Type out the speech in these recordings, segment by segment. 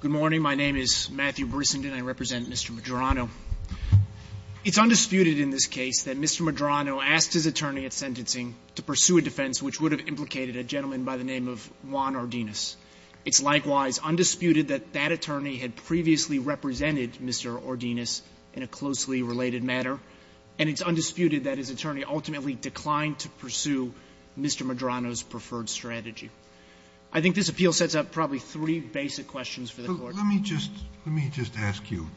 Good morning. My name is Matthew Brissenden. I represent Mr. Medrano. It's undisputed in this case that Mr. Medrano asked his attorney at sentencing to pursue a defense which would have implicated a gentleman by the name of Juan Ordines. It's likewise undisputed that that attorney had previously represented Mr. Ordines in a closely related matter, and it's undisputed that his attorney ultimately declined to pursue Mr. Medrano's preferred strategy. I think this appeal sets up probably three basic questions for the Court. Let me just ask you,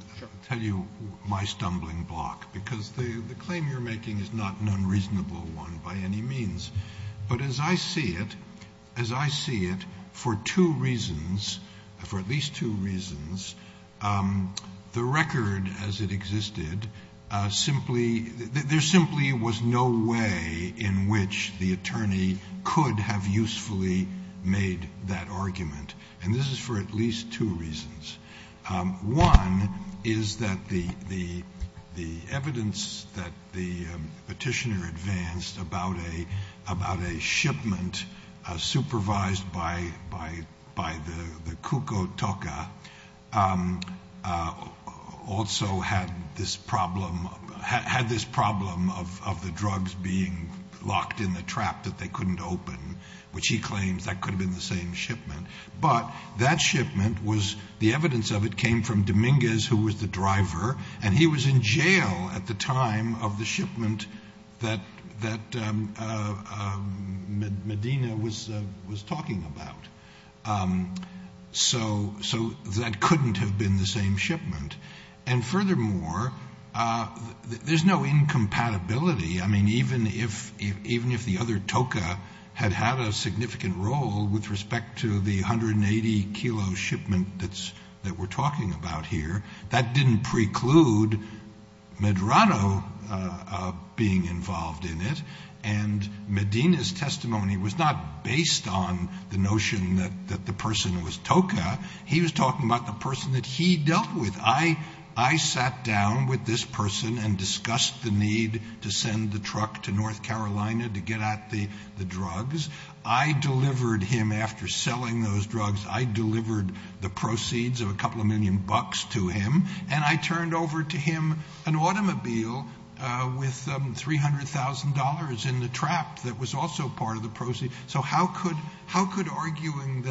tell you my stumbling block, because the claim you're making is not an unreasonable one by any means. But as I see it, as I see it, for two reasons, for at least two reasons, the record as it existed, simply, there simply was no way in which the attorney could have usefully made that argument. And this is for at least two reasons. One is that the evidence that the petitioner advanced about a shipment supervised by the Cucutuca also had this problem of the drugs being locked in the trap that they couldn't open, which he claims that could have been the same shipment. But that shipment was, the evidence of it came from Dominguez, who was the driver, and he was in jail at the time of the shipment that Medina was talking about. So that couldn't have been the same shipment. And furthermore, there's no incompatibility. I mean, even if the other TOCA had had a significant role with respect to the 180-kilo shipment that we're talking about here, that didn't preclude Medrano being involved in it. And Medina's testimony was not based on the notion that the person was TOCA. He was talking about the person that he dealt with. I sat down with this person and discussed the need to send the truck to North Carolina to get at the drugs. I delivered him, after selling those drugs, I delivered the proceeds of a couple of million bucks to him, and I turned over to him an automobile with $300,000 in the trap that was also part of the proceeds. So how could arguing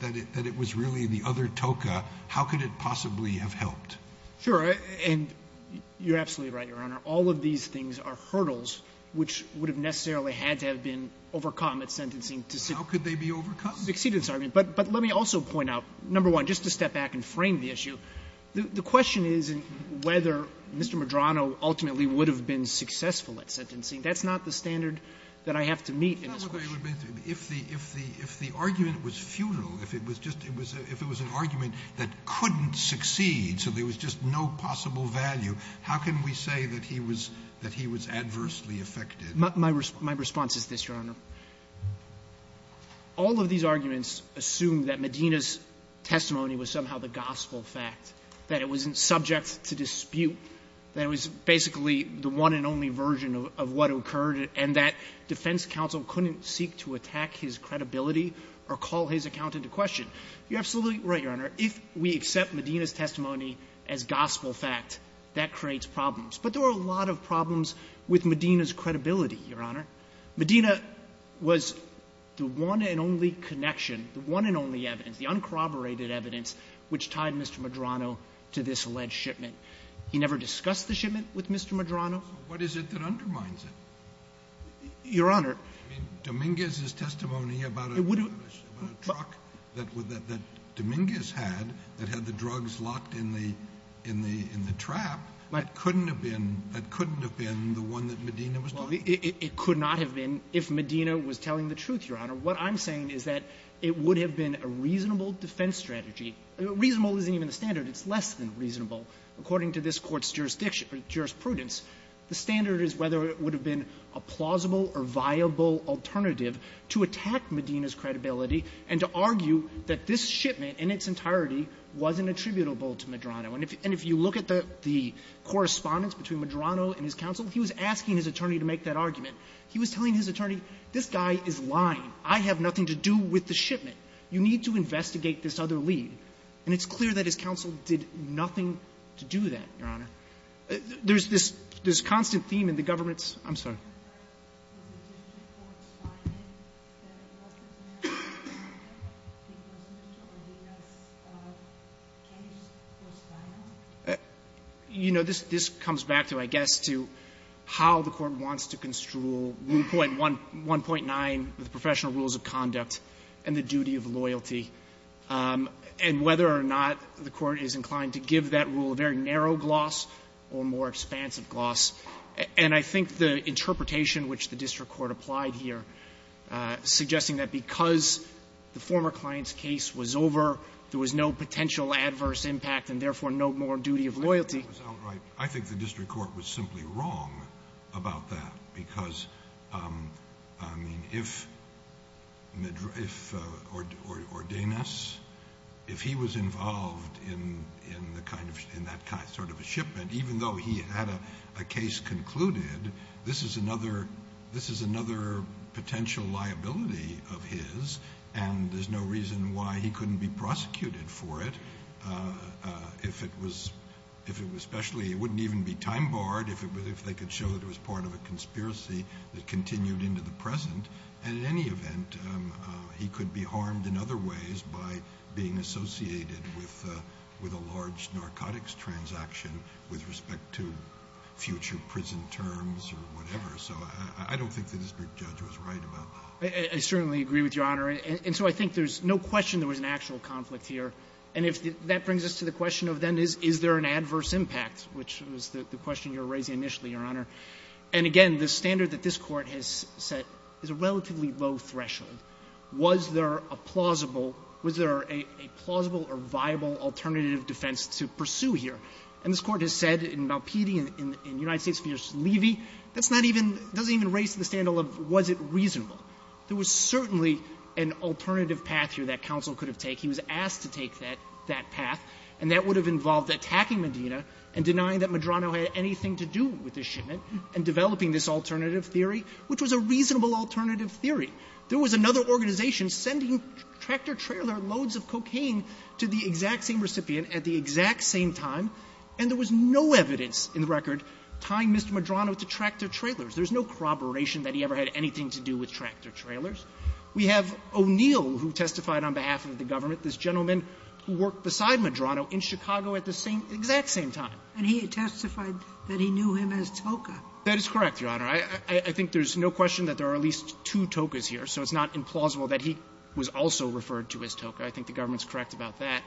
that it was really the other TOCA, how could it possibly have helped? Sure. And you're absolutely right, Your Honor. All of these things are hurdles which would have necessarily had to have been overcome at sentencing to succeed. How could they be overcome? But let me also point out, number one, just to step back and frame the issue. The question is whether Mr. Medrano ultimately would have been successful at sentencing. That's not the standard that I have to meet in this question. If the argument was futile, if it was an argument that couldn't succeed, so there was just no possible value, how can we say that he was adversely affected? My response is this, Your Honor. All of these arguments assume that Medina's testimony was somehow the gospel fact, that it wasn't subject to dispute, that it was basically the one and only version of what occurred, and that defense counsel couldn't seek to attack his credibility or call his account into question. You're absolutely right, Your Honor. If we accept Medina's testimony as gospel fact, that creates problems. But there were a lot of problems with Medina's credibility, Your Honor. Medina was the one and only connection, the one and only evidence, the uncorroborated evidence which tied Mr. Medrano to this alleged shipment. He never discussed the shipment with Mr. Medrano. So what is it that undermines it? Your Honor. I mean, Dominguez's testimony about a truck that Dominguez had that had the drugs locked in the trap, that couldn't have been the one that Medina was talking about. Well, it could not have been if Medina was telling the truth, Your Honor. What I'm saying is that it would have been a reasonable defense strategy. It's less than reasonable. According to this Court's jurisdiction or jurisprudence, the standard is whether it would have been a plausible or viable alternative to attack Medina's credibility and to argue that this shipment in its entirety wasn't attributable to Medrano. And if you look at the correspondence between Medrano and his counsel, he was asking his attorney to make that argument. He was telling his attorney, this guy is lying. I have nothing to do with the shipment. You need to investigate this other lead. And it's clear that his counsel did nothing to do that, Your Honor. There's this constant theme in the government's I'm sorry. You know, this comes back to, I guess, to how the Court wants to construe Rule 1.9 with professional rules of conduct and the duty of loyalty. And whether or not the Court is inclined to give that rule a very narrow gloss or more expansive gloss. And I think the interpretation which the district court applied here, suggesting that because the former client's case was over, there was no potential adverse impact and, therefore, no more duty of loyalty. I think the district court was simply wrong about that because, I mean, if Medrano could ordain us, if he was involved in that sort of a shipment, even though he had a case concluded, this is another potential liability of his. And there's no reason why he couldn't be prosecuted for it. If it was specially, it wouldn't even be time barred if they could show that it was part of a conspiracy that continued into the present. And in any event, he could be harmed in other ways by being associated with a large narcotics transaction with respect to future prison terms or whatever. So I don't think the district judge was right about that. I certainly agree with Your Honor. And so I think there's no question there was an actual conflict here. And if that brings us to the question of then is there an adverse impact, which was the question you were raising initially, Your Honor. And again, the standard that this Court has set is a relatively low threshold. Was there a plausible or viable alternative defense to pursue here? And this Court has said in Malpiedi and in United States v. Levy, that's not even — doesn't even raise to the standard of was it reasonable. There was certainly an alternative path here that counsel could have taken. He was asked to take that path, and that would have involved attacking Medina and denying that Medrano had anything to do with the shipment and developing this alternative theory, which was a reasonable alternative theory. There was another organization sending tractor-trailer loads of cocaine to the exact same recipient at the exact same time, and there was no evidence in the record tying Mr. Medrano to tractor-trailers. There's no corroboration that he ever had anything to do with tractor-trailers. We have O'Neill who testified on behalf of the government, this gentleman who worked beside Medrano in Chicago at the same — exact same time. And he testified that he knew him as Toka. That is correct, Your Honor. I think there's no question that there are at least two Tokas here, so it's not implausible that he was also referred to as Toka. I think the government's correct about that.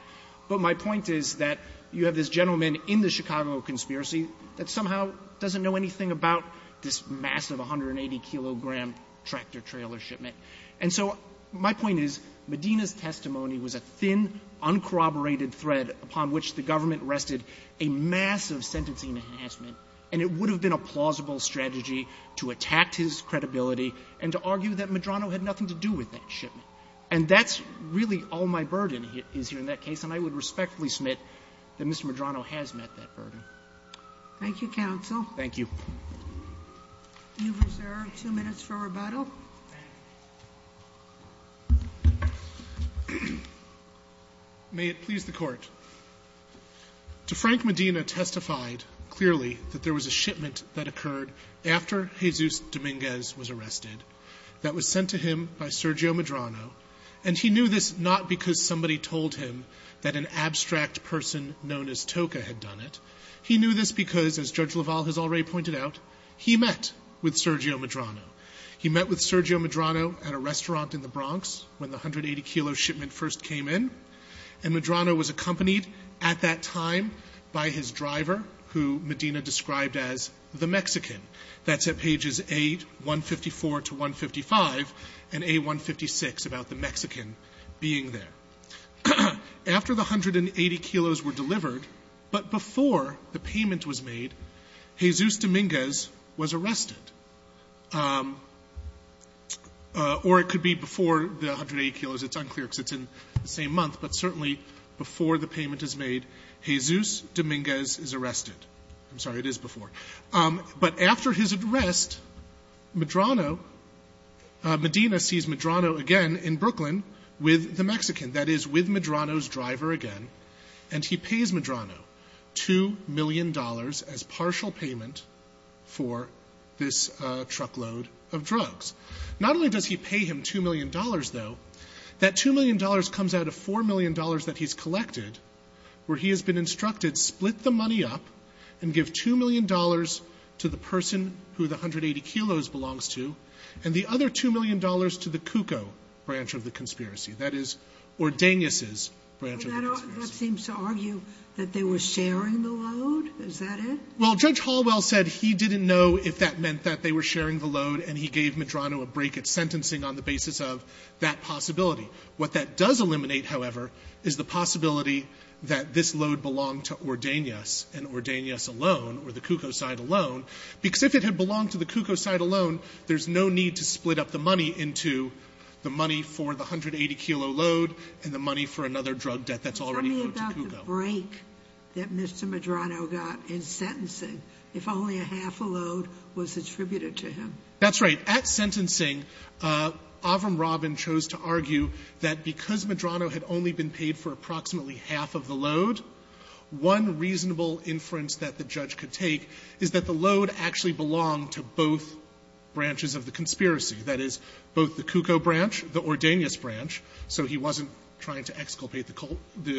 But my point is that you have this gentleman in the Chicago conspiracy that somehow doesn't know anything about this massive 180-kilogram tractor-trailer shipment. And so my point is Medina's testimony was a thin, uncorroborated thread upon which the government rested a massive sentencing enhancement. And it would have been a plausible strategy to attack his credibility and to argue that Medrano had nothing to do with that shipment. And that's really all my burden is here in that case, and I would respectfully submit that Mr. Medrano has met that burden. Thank you, counsel. Thank you. You reserve two minutes for rebuttal. May it please the Court. To Frank Medina testified clearly that there was a shipment that occurred after Jesus Dominguez was arrested that was sent to him by Sergio Medrano. And he knew this not because somebody told him that an abstract person known as Toka had done it. He knew this because, as Judge LaValle has already pointed out, he met with Sergio Medrano at a restaurant in the Bronx when the 180-kilo shipment first came in. And Medrano was accompanied at that time by his driver, who Medina described as the Mexican. That's at pages 8, 154 to 155, and A156 about the Mexican being there. After the 180 kilos were delivered, but before the payment was made, Jesus Dominguez was arrested. Or it could be before the 180 kilos. It's unclear because it's in the same month. But certainly before the payment is made, Jesus Dominguez is arrested. I'm sorry, it is before. But after his arrest, Medina sees Medrano again in Brooklyn with the Mexican. That is, with Medrano's driver again. And he pays Medrano $2 million as partial payment for this truckload of drugs. Not only does he pay him $2 million, though, that $2 million comes out of $4 million that he's collected, where he has been instructed, split the money up and give $2 million to the person who the 180 kilos belongs to, and the other $2 million to the Cuco branch of the conspiracy. That is, Ordeños's branch of the conspiracy. That seems to argue that they were sharing the load. Is that it? Well, Judge Hallwell said he didn't know if that meant that they were sharing the load, and he gave Medrano a break at sentencing on the basis of that possibility. What that does eliminate, however, is the possibility that this load belonged to Ordeños, and Ordeños alone, or the Cuco side alone, because if it had belonged to the Cuco side alone, there's no need to split up the money into the money for the 180 kilo load and the money for another drug debt that's already owed to Cuco. Tell me about the break that Mr. Medrano got in sentencing, if only a half a load was attributed to him. That's right. At sentencing, Avram Rabin chose to argue that because Medrano had only been paid for approximately half of the load, one reasonable inference that the judge could take is that the load actually belonged to both branches of the conspiracy. That is, both the Cuco branch, the Ordeños branch, so he wasn't trying to exculpate the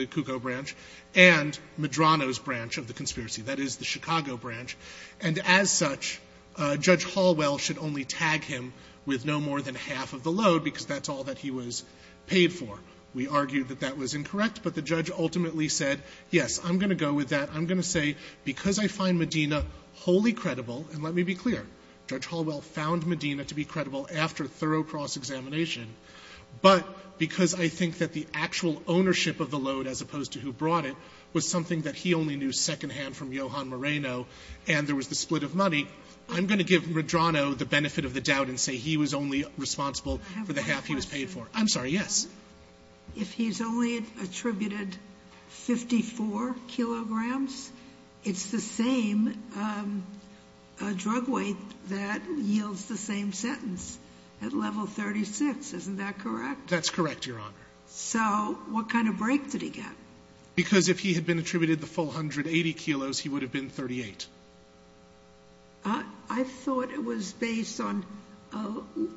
Cuco branch, and Medrano's branch of the conspiracy, that is, the Chicago branch. And as such, Judge Hallwell should only tag him with no more than half of the load, because that's all that he was paid for. We argued that that was incorrect, but the judge ultimately said, yes, I'm going to go with that. I'm going to say because I find Medina wholly credible, and let me be clear, Judge Hallwell found Medina to be credible after thorough cross-examination, but because I think that the actual ownership of the load, as opposed to who brought it, was something that he only knew secondhand from Johan Moreno, and there was the split of money, I'm going to give Medrano the benefit of the doubt and say he was only responsible for the half he was paid for. I'm sorry, yes. If he's only attributed 54 kilograms, it's the same drug weight that yields the same sentence at level 36, isn't that correct? That's correct, Your Honor. So what kind of break did he get? Because if he had been attributed the full 180 kilos, he would have been 38. I thought it was based on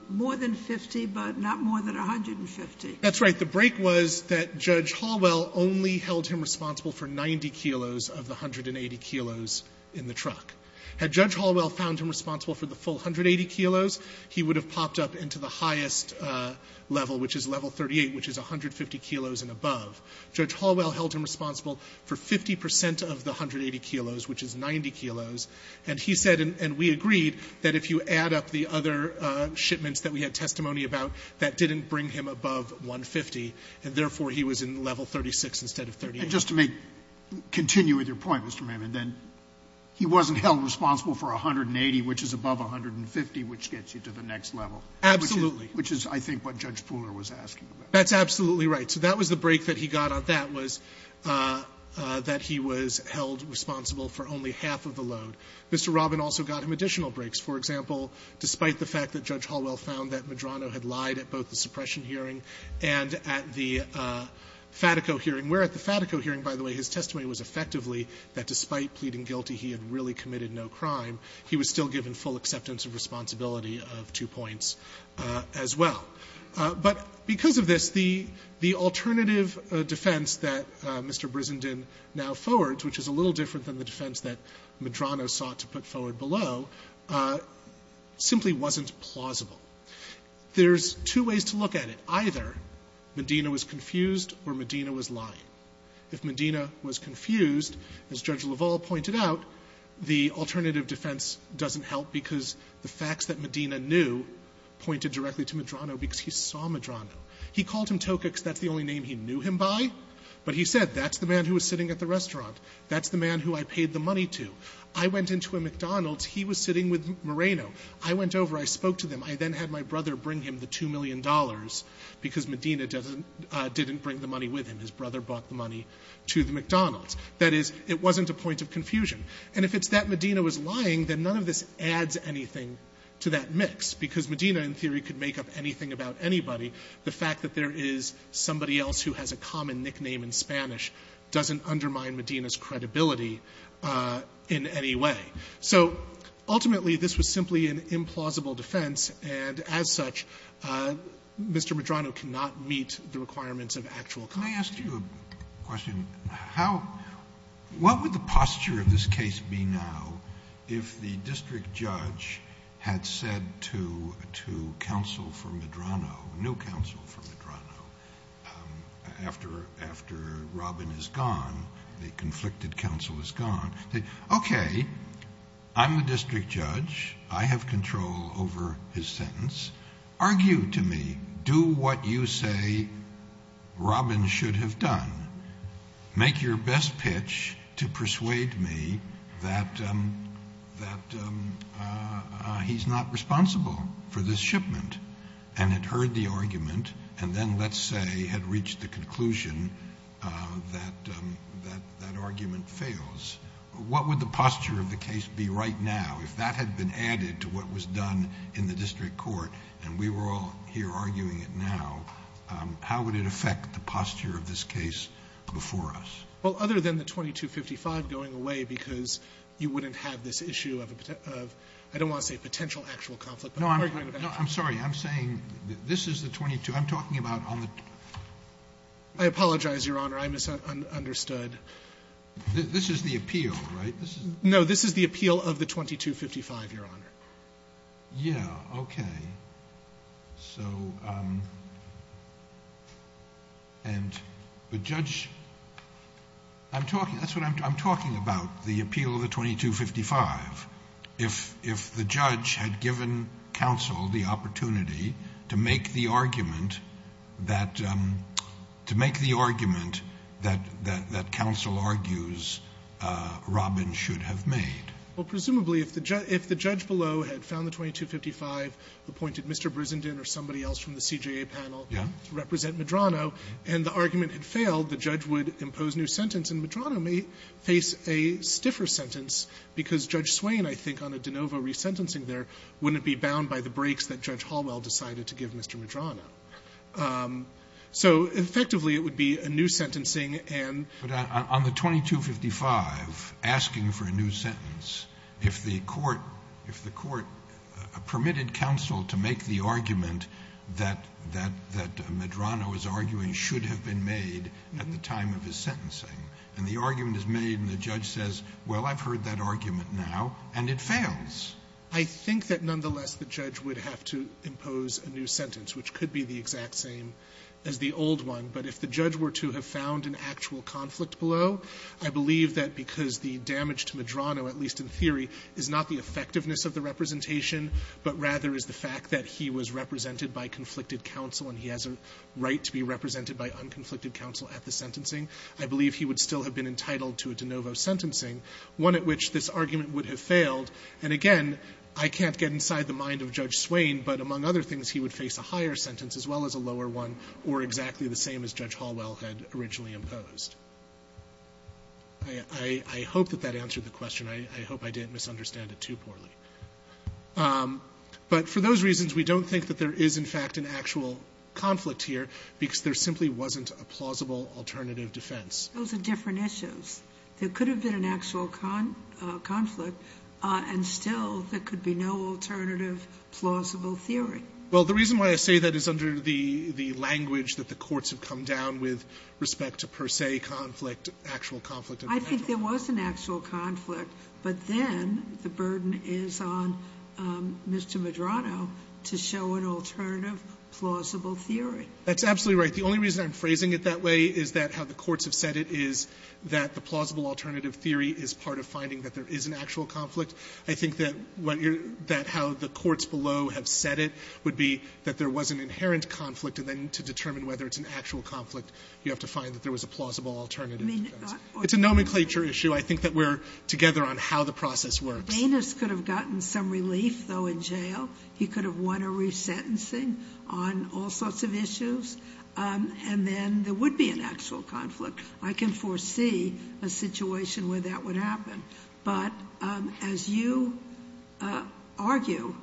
more than 50, but not more than 150. That's right. The break was that Judge Hallwell only held him responsible for 90 kilos of the 180 kilos in the truck. Had Judge Hallwell found him responsible for the full 180 kilos, he would have popped up into the highest level, which is level 38, which is 150 kilos and above. Judge Hallwell held him responsible for 50% of the 180 kilos, which is 90 kilos, and he said, and we agreed, that if you add up the other shipments that we had of the other shipments, you get 150, and therefore he was in level 36 instead of 38. And just to continue with your point, Mr. Mahamud, then he wasn't held responsible for 180, which is above 150, which gets you to the next level. Absolutely. Which is, I think, what Judge Pooler was asking about. That's absolutely right. So that was the break that he got on that was that he was held responsible for only half of the load. Mr. Robin also got him additional breaks. For example, despite the fact that Judge Hallwell found that Medrano had lied at both the suppression hearing and at the Fatico hearing, where at the Fatico hearing, by the way, his testimony was effectively that despite pleading guilty, he had really committed no crime, he was still given full acceptance of responsibility of two points as well. But because of this, the alternative defense that Mr. Brizenden now forwards, which is a little different than the defense that Medrano sought to put forward below, simply wasn't plausible. There's two ways to look at it. Either Medina was confused or Medina was lying. If Medina was confused, as Judge LaValle pointed out, the alternative defense doesn't help because the facts that Medina knew pointed directly to Medrano because he saw Medrano. He called him Tokacs. That's the only name he knew him by. But he said, that's the man who was sitting at the restaurant. That's the man who I paid the money to. I went into a McDonald's. He was sitting with Moreno. I went over. I spoke to them. I then had my brother bring him the $2 million because Medina didn't bring the money with him. His brother brought the money to the McDonald's. That is, it wasn't a point of confusion. And if it's that Medina was lying, then none of this adds anything to that mix because Medina, in theory, could make up anything about anybody. The fact that there is somebody else who has a common nickname in Spanish doesn't undermine Medina's credibility in any way. So ultimately, this was simply an implausible defense. And as such, Mr. Medrano cannot meet the requirements of actual conduct. Kennedy. Let me ask you a question. What would the posture of this case be now if the district judge had said to counsel for Medrano, new counsel for Medrano, after Robin is gone, the conflicted Okay, I'm the district judge. I have control over his sentence. Argue to me. Do what you say Robin should have done. Make your best pitch to persuade me that he's not responsible for this shipment. And had heard the argument and then, let's say, had reached the conclusion that that argument fails, what would the posture of the case be right now if that had been added to what was done in the district court, and we were all here arguing it now, how would it affect the posture of this case before us? Well, other than the 2255 going away because you wouldn't have this issue of, I don't want to say potential actual conflict. No, I'm sorry. I'm saying this is the 22. I'm talking about on the. I apologize, Your Honor. I misunderstood. This is the appeal, right? No, this is the appeal of the 2255, Your Honor. Yeah, okay. So, and the judge, I'm talking, that's what I'm talking about, the appeal of the 2255. If the judge had given counsel the opportunity to make the argument that, to make the argument that counsel argues Robin should have made. Well, presumably, if the judge below had found the 2255, appointed Mr. Brizenden or somebody else from the CJA panel to represent Medrano, and the argument had failed, the judge would impose new sentence, and Medrano may face a stiffer sentence because Judge Swain, I think, on a de novo resentencing there, wouldn't be bound by the breaks that Judge Hallwell decided to give Mr. Medrano. So, effectively, it would be a new sentencing and. But on the 2255, asking for a new sentence, if the court, if the court permitted counsel to make the argument that Medrano is arguing should have been made at the time of his sentencing, and the argument is made and the judge says, well, I've heard that argument now, and it fails. I think that, nonetheless, the judge would have to impose a new sentence, which could be the exact same as the old one. But if the judge were to have found an actual conflict below, I believe that because the damage to Medrano, at least in theory, is not the effectiveness of the representation, but rather is the fact that he was represented by conflicted counsel and he has a right to be represented by unconflicted counsel at the sentencing, I believe he would still have been entitled to a de novo sentencing, one at which this argument would have failed. And, again, I can't get inside the mind of Judge Swain, but among other things, he would face a higher sentence as well as a lower one, or exactly the same as Judge Hallwell had originally imposed. I hope that that answered the question. I hope I didn't misunderstand it too poorly. But for those reasons, we don't think that there is, in fact, an actual conflict here because there simply wasn't a plausible alternative defense. Those are different issues. There could have been an actual conflict, and still there could be no alternative plausible theory. Well, the reason why I say that is under the language that the courts have come down with respect to per se conflict, actual conflict. I think there was an actual conflict, but then the burden is on Mr. Medrano to show an alternative plausible theory. That's absolutely right. The only reason I'm phrasing it that way is that how the courts have said it is that the plausible alternative theory is part of finding that there is an actual conflict. I think that how the courts below have said it would be that there was an inherent conflict, and then to determine whether it's an actual conflict, you have to find that there was a plausible alternative defense. It's a nomenclature issue. I think that we're together on how the process works. Banus could have gotten some relief, though, in jail. He could have won a resentencing on all sorts of issues, and then there would be an actual conflict. I can foresee a situation where that would happen. But as you argue,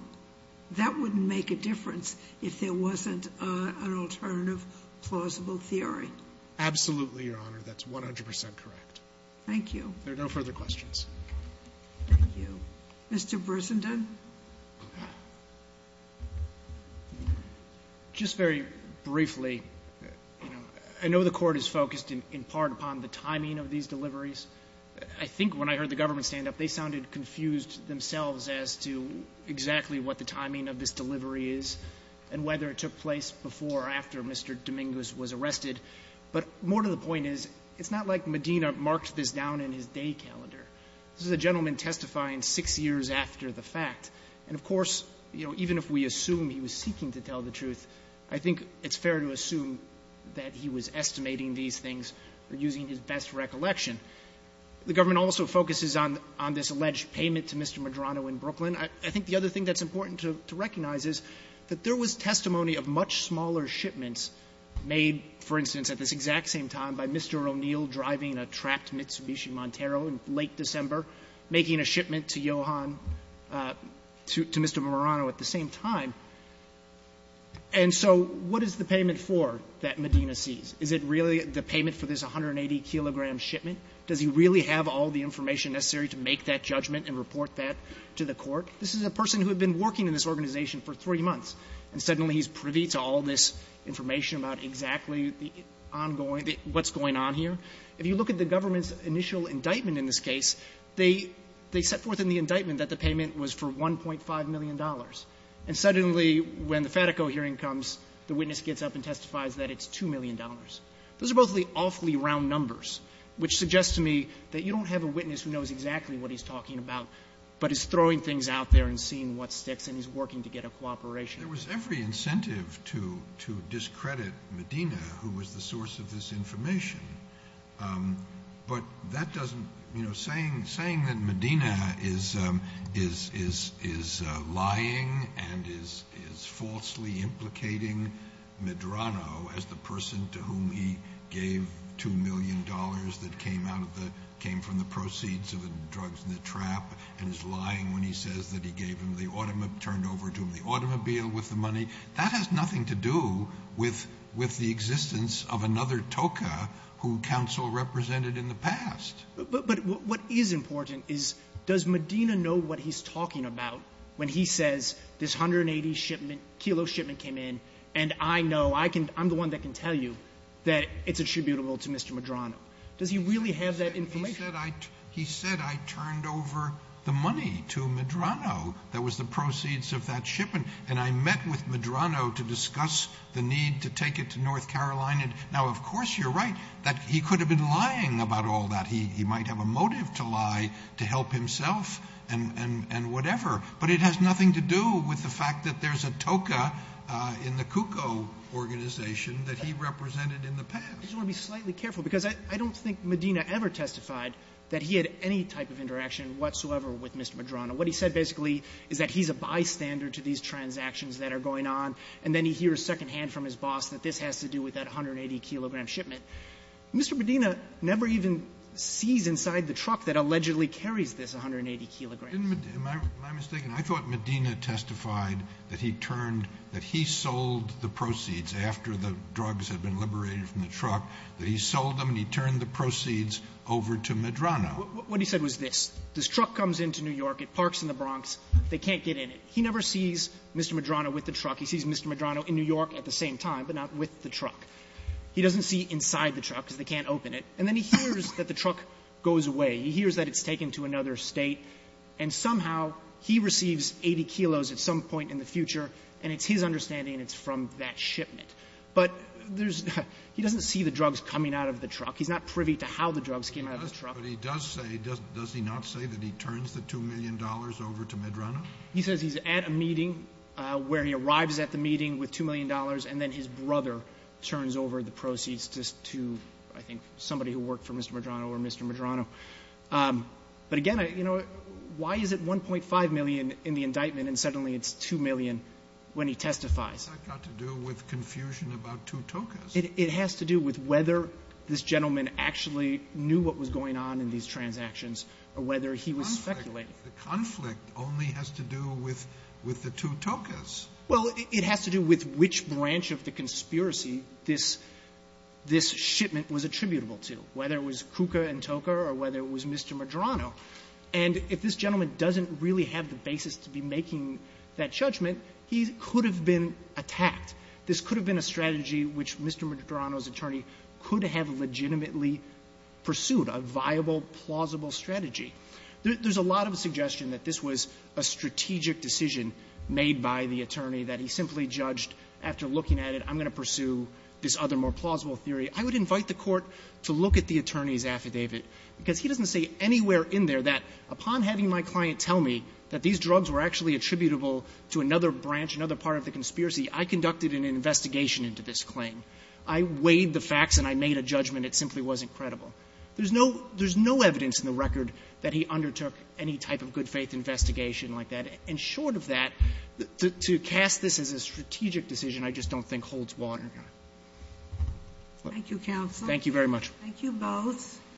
that wouldn't make a difference if there wasn't an alternative plausible theory. Absolutely, Your Honor. That's 100 percent correct. Thank you. There are no further questions. Thank you. Mr. Bresenden. Just very briefly, I know the Court is focused in part upon the timing of these deliveries. I think when I heard the government stand up, they sounded confused themselves as to exactly what the timing of this delivery is and whether it took place before or after Mr. Domingos was arrested. But more to the point is, it's not like Medina marked this down in his day calendar. This is a gentleman testifying six years after the fact. And of course, you know, even if we assume he was seeking to tell the truth, I think it's fair to assume that he was estimating these things or using his best recollection. The government also focuses on this alleged payment to Mr. Medrano in Brooklyn. I think the other thing that's important to recognize is that there was testimony of much smaller shipments made, for instance, at this exact same time by Mr. O'Neill driving a trapped Mitsubishi Montero in late December, making a shipment to Johann to Mr. Medrano at the same time. And so what is the payment for that Medina sees? Is it really the payment for this 180-kilogram shipment? Does he really have all the information necessary to make that judgment and report that to the Court? This is a person who had been working in this organization for three months, and suddenly he's privy to all this information about exactly the ongoing, what's going on here. If you look at the government's initial indictment in this case, they set forth in the indictment that the payment was for $1.5 million. And suddenly, when the Fatico hearing comes, the witness gets up and testifies that it's $2 million. Those are both the awfully round numbers, which suggests to me that you don't have a witness who knows exactly what he's talking about, but he's throwing things out there and seeing what sticks, and he's working to get a cooperation. There was every incentive to discredit Medina, who was the source of this information. But that doesn't, you know, saying that Medina is lying and is falsely implicating Medrano as the person to whom he gave $2 million that came out of the, came from the proceeds of the drugs in the trap, and is lying when he says that he gave him the automobile, turned over to him the automobile with the money. That has nothing to do with the existence of another TOCA who counsel represented in the past. But what is important is, does Medina know what he's talking about when he says, this 180 shipment, kilo shipment came in, and I know, I'm the one that can tell you that it's attributable to Mr. Medrano. Does he really have that information? He said I turned over the money to Medrano that was the proceeds of that shipment, and I met with Medrano to discuss the need to take it to North Carolina. Now, of course, you're right that he could have been lying about all that. He might have a motive to lie to help himself and whatever, but it has nothing to do with the fact that there's a TOCA in the CUCO organization that he represented in the past. I just want to be slightly careful, because I don't think Medina ever testified that he had any type of interaction whatsoever with Mr. Medrano. What he said basically is that he's a bystander to these transactions that are going on, and then he hears secondhand from his boss that this has to do with that 180-kilogram shipment. Mr. Medina never even sees inside the truck that allegedly carries this 180 kilograms. Am I mistaken? I thought Medina testified that he turned, that he sold the proceeds after the drugs had been liberated from the truck, that he sold them and he turned the proceeds over to Medrano. What he said was this. This truck comes into New York. It parks in the Bronx. They can't get in it. He never sees Mr. Medrano with the truck. He sees Mr. Medrano in New York at the same time, but not with the truck. He doesn't see inside the truck because they can't open it. And then he hears that the truck goes away. He hears that it's taken to another State, and somehow he receives 80 kilos at some point in the future, and it's his understanding it's from that shipment. But there's, he doesn't see the drugs coming out of the truck. He's not privy to how the drugs came out of the truck. But he does say, does he not say that he turns the $2 million over to Medrano? He says he's at a meeting where he arrives at the meeting with $2 million, and then his brother turns over the proceeds to, I think, somebody who worked for Mr. Medrano or Mr. Medrano. But again, you know, why is it 1.5 million in the indictment, and suddenly it's 2 million when he testifies? It's got to do with confusion about two tokas. It has to do with whether this gentleman actually knew what was going on in these transactions or whether he was speculating. The conflict only has to do with the two tokas. Well, it has to do with which branch of the conspiracy this shipment was attributable to, whether it was Kuka and Toka or whether it was Mr. Medrano. And if this gentleman doesn't really have the basis to be making that judgment, he could have been attacked. This could have been a strategy which Mr. Medrano's attorney could have legitimately pursued, a viable, plausible strategy. There's a lot of suggestion that this was a strategic decision made by the attorney, that he simply judged, after looking at it, I'm going to pursue this other, more plausible theory. I would invite the Court to look at the attorney's affidavit, because he doesn't say anywhere in there that, upon having my client tell me that these drugs were actually attributable to another branch, another part of the conspiracy, I conducted an investigation into this claim. I weighed the facts and I made a judgment. It simply wasn't credible. There's no – there's no evidence in the record that he undertook any type of good-faith investigation like that. And short of that, to cast this as a strategic decision I just don't think holds water. Ginsburg. Thank you, counsel. Thank you very much. Thank you both.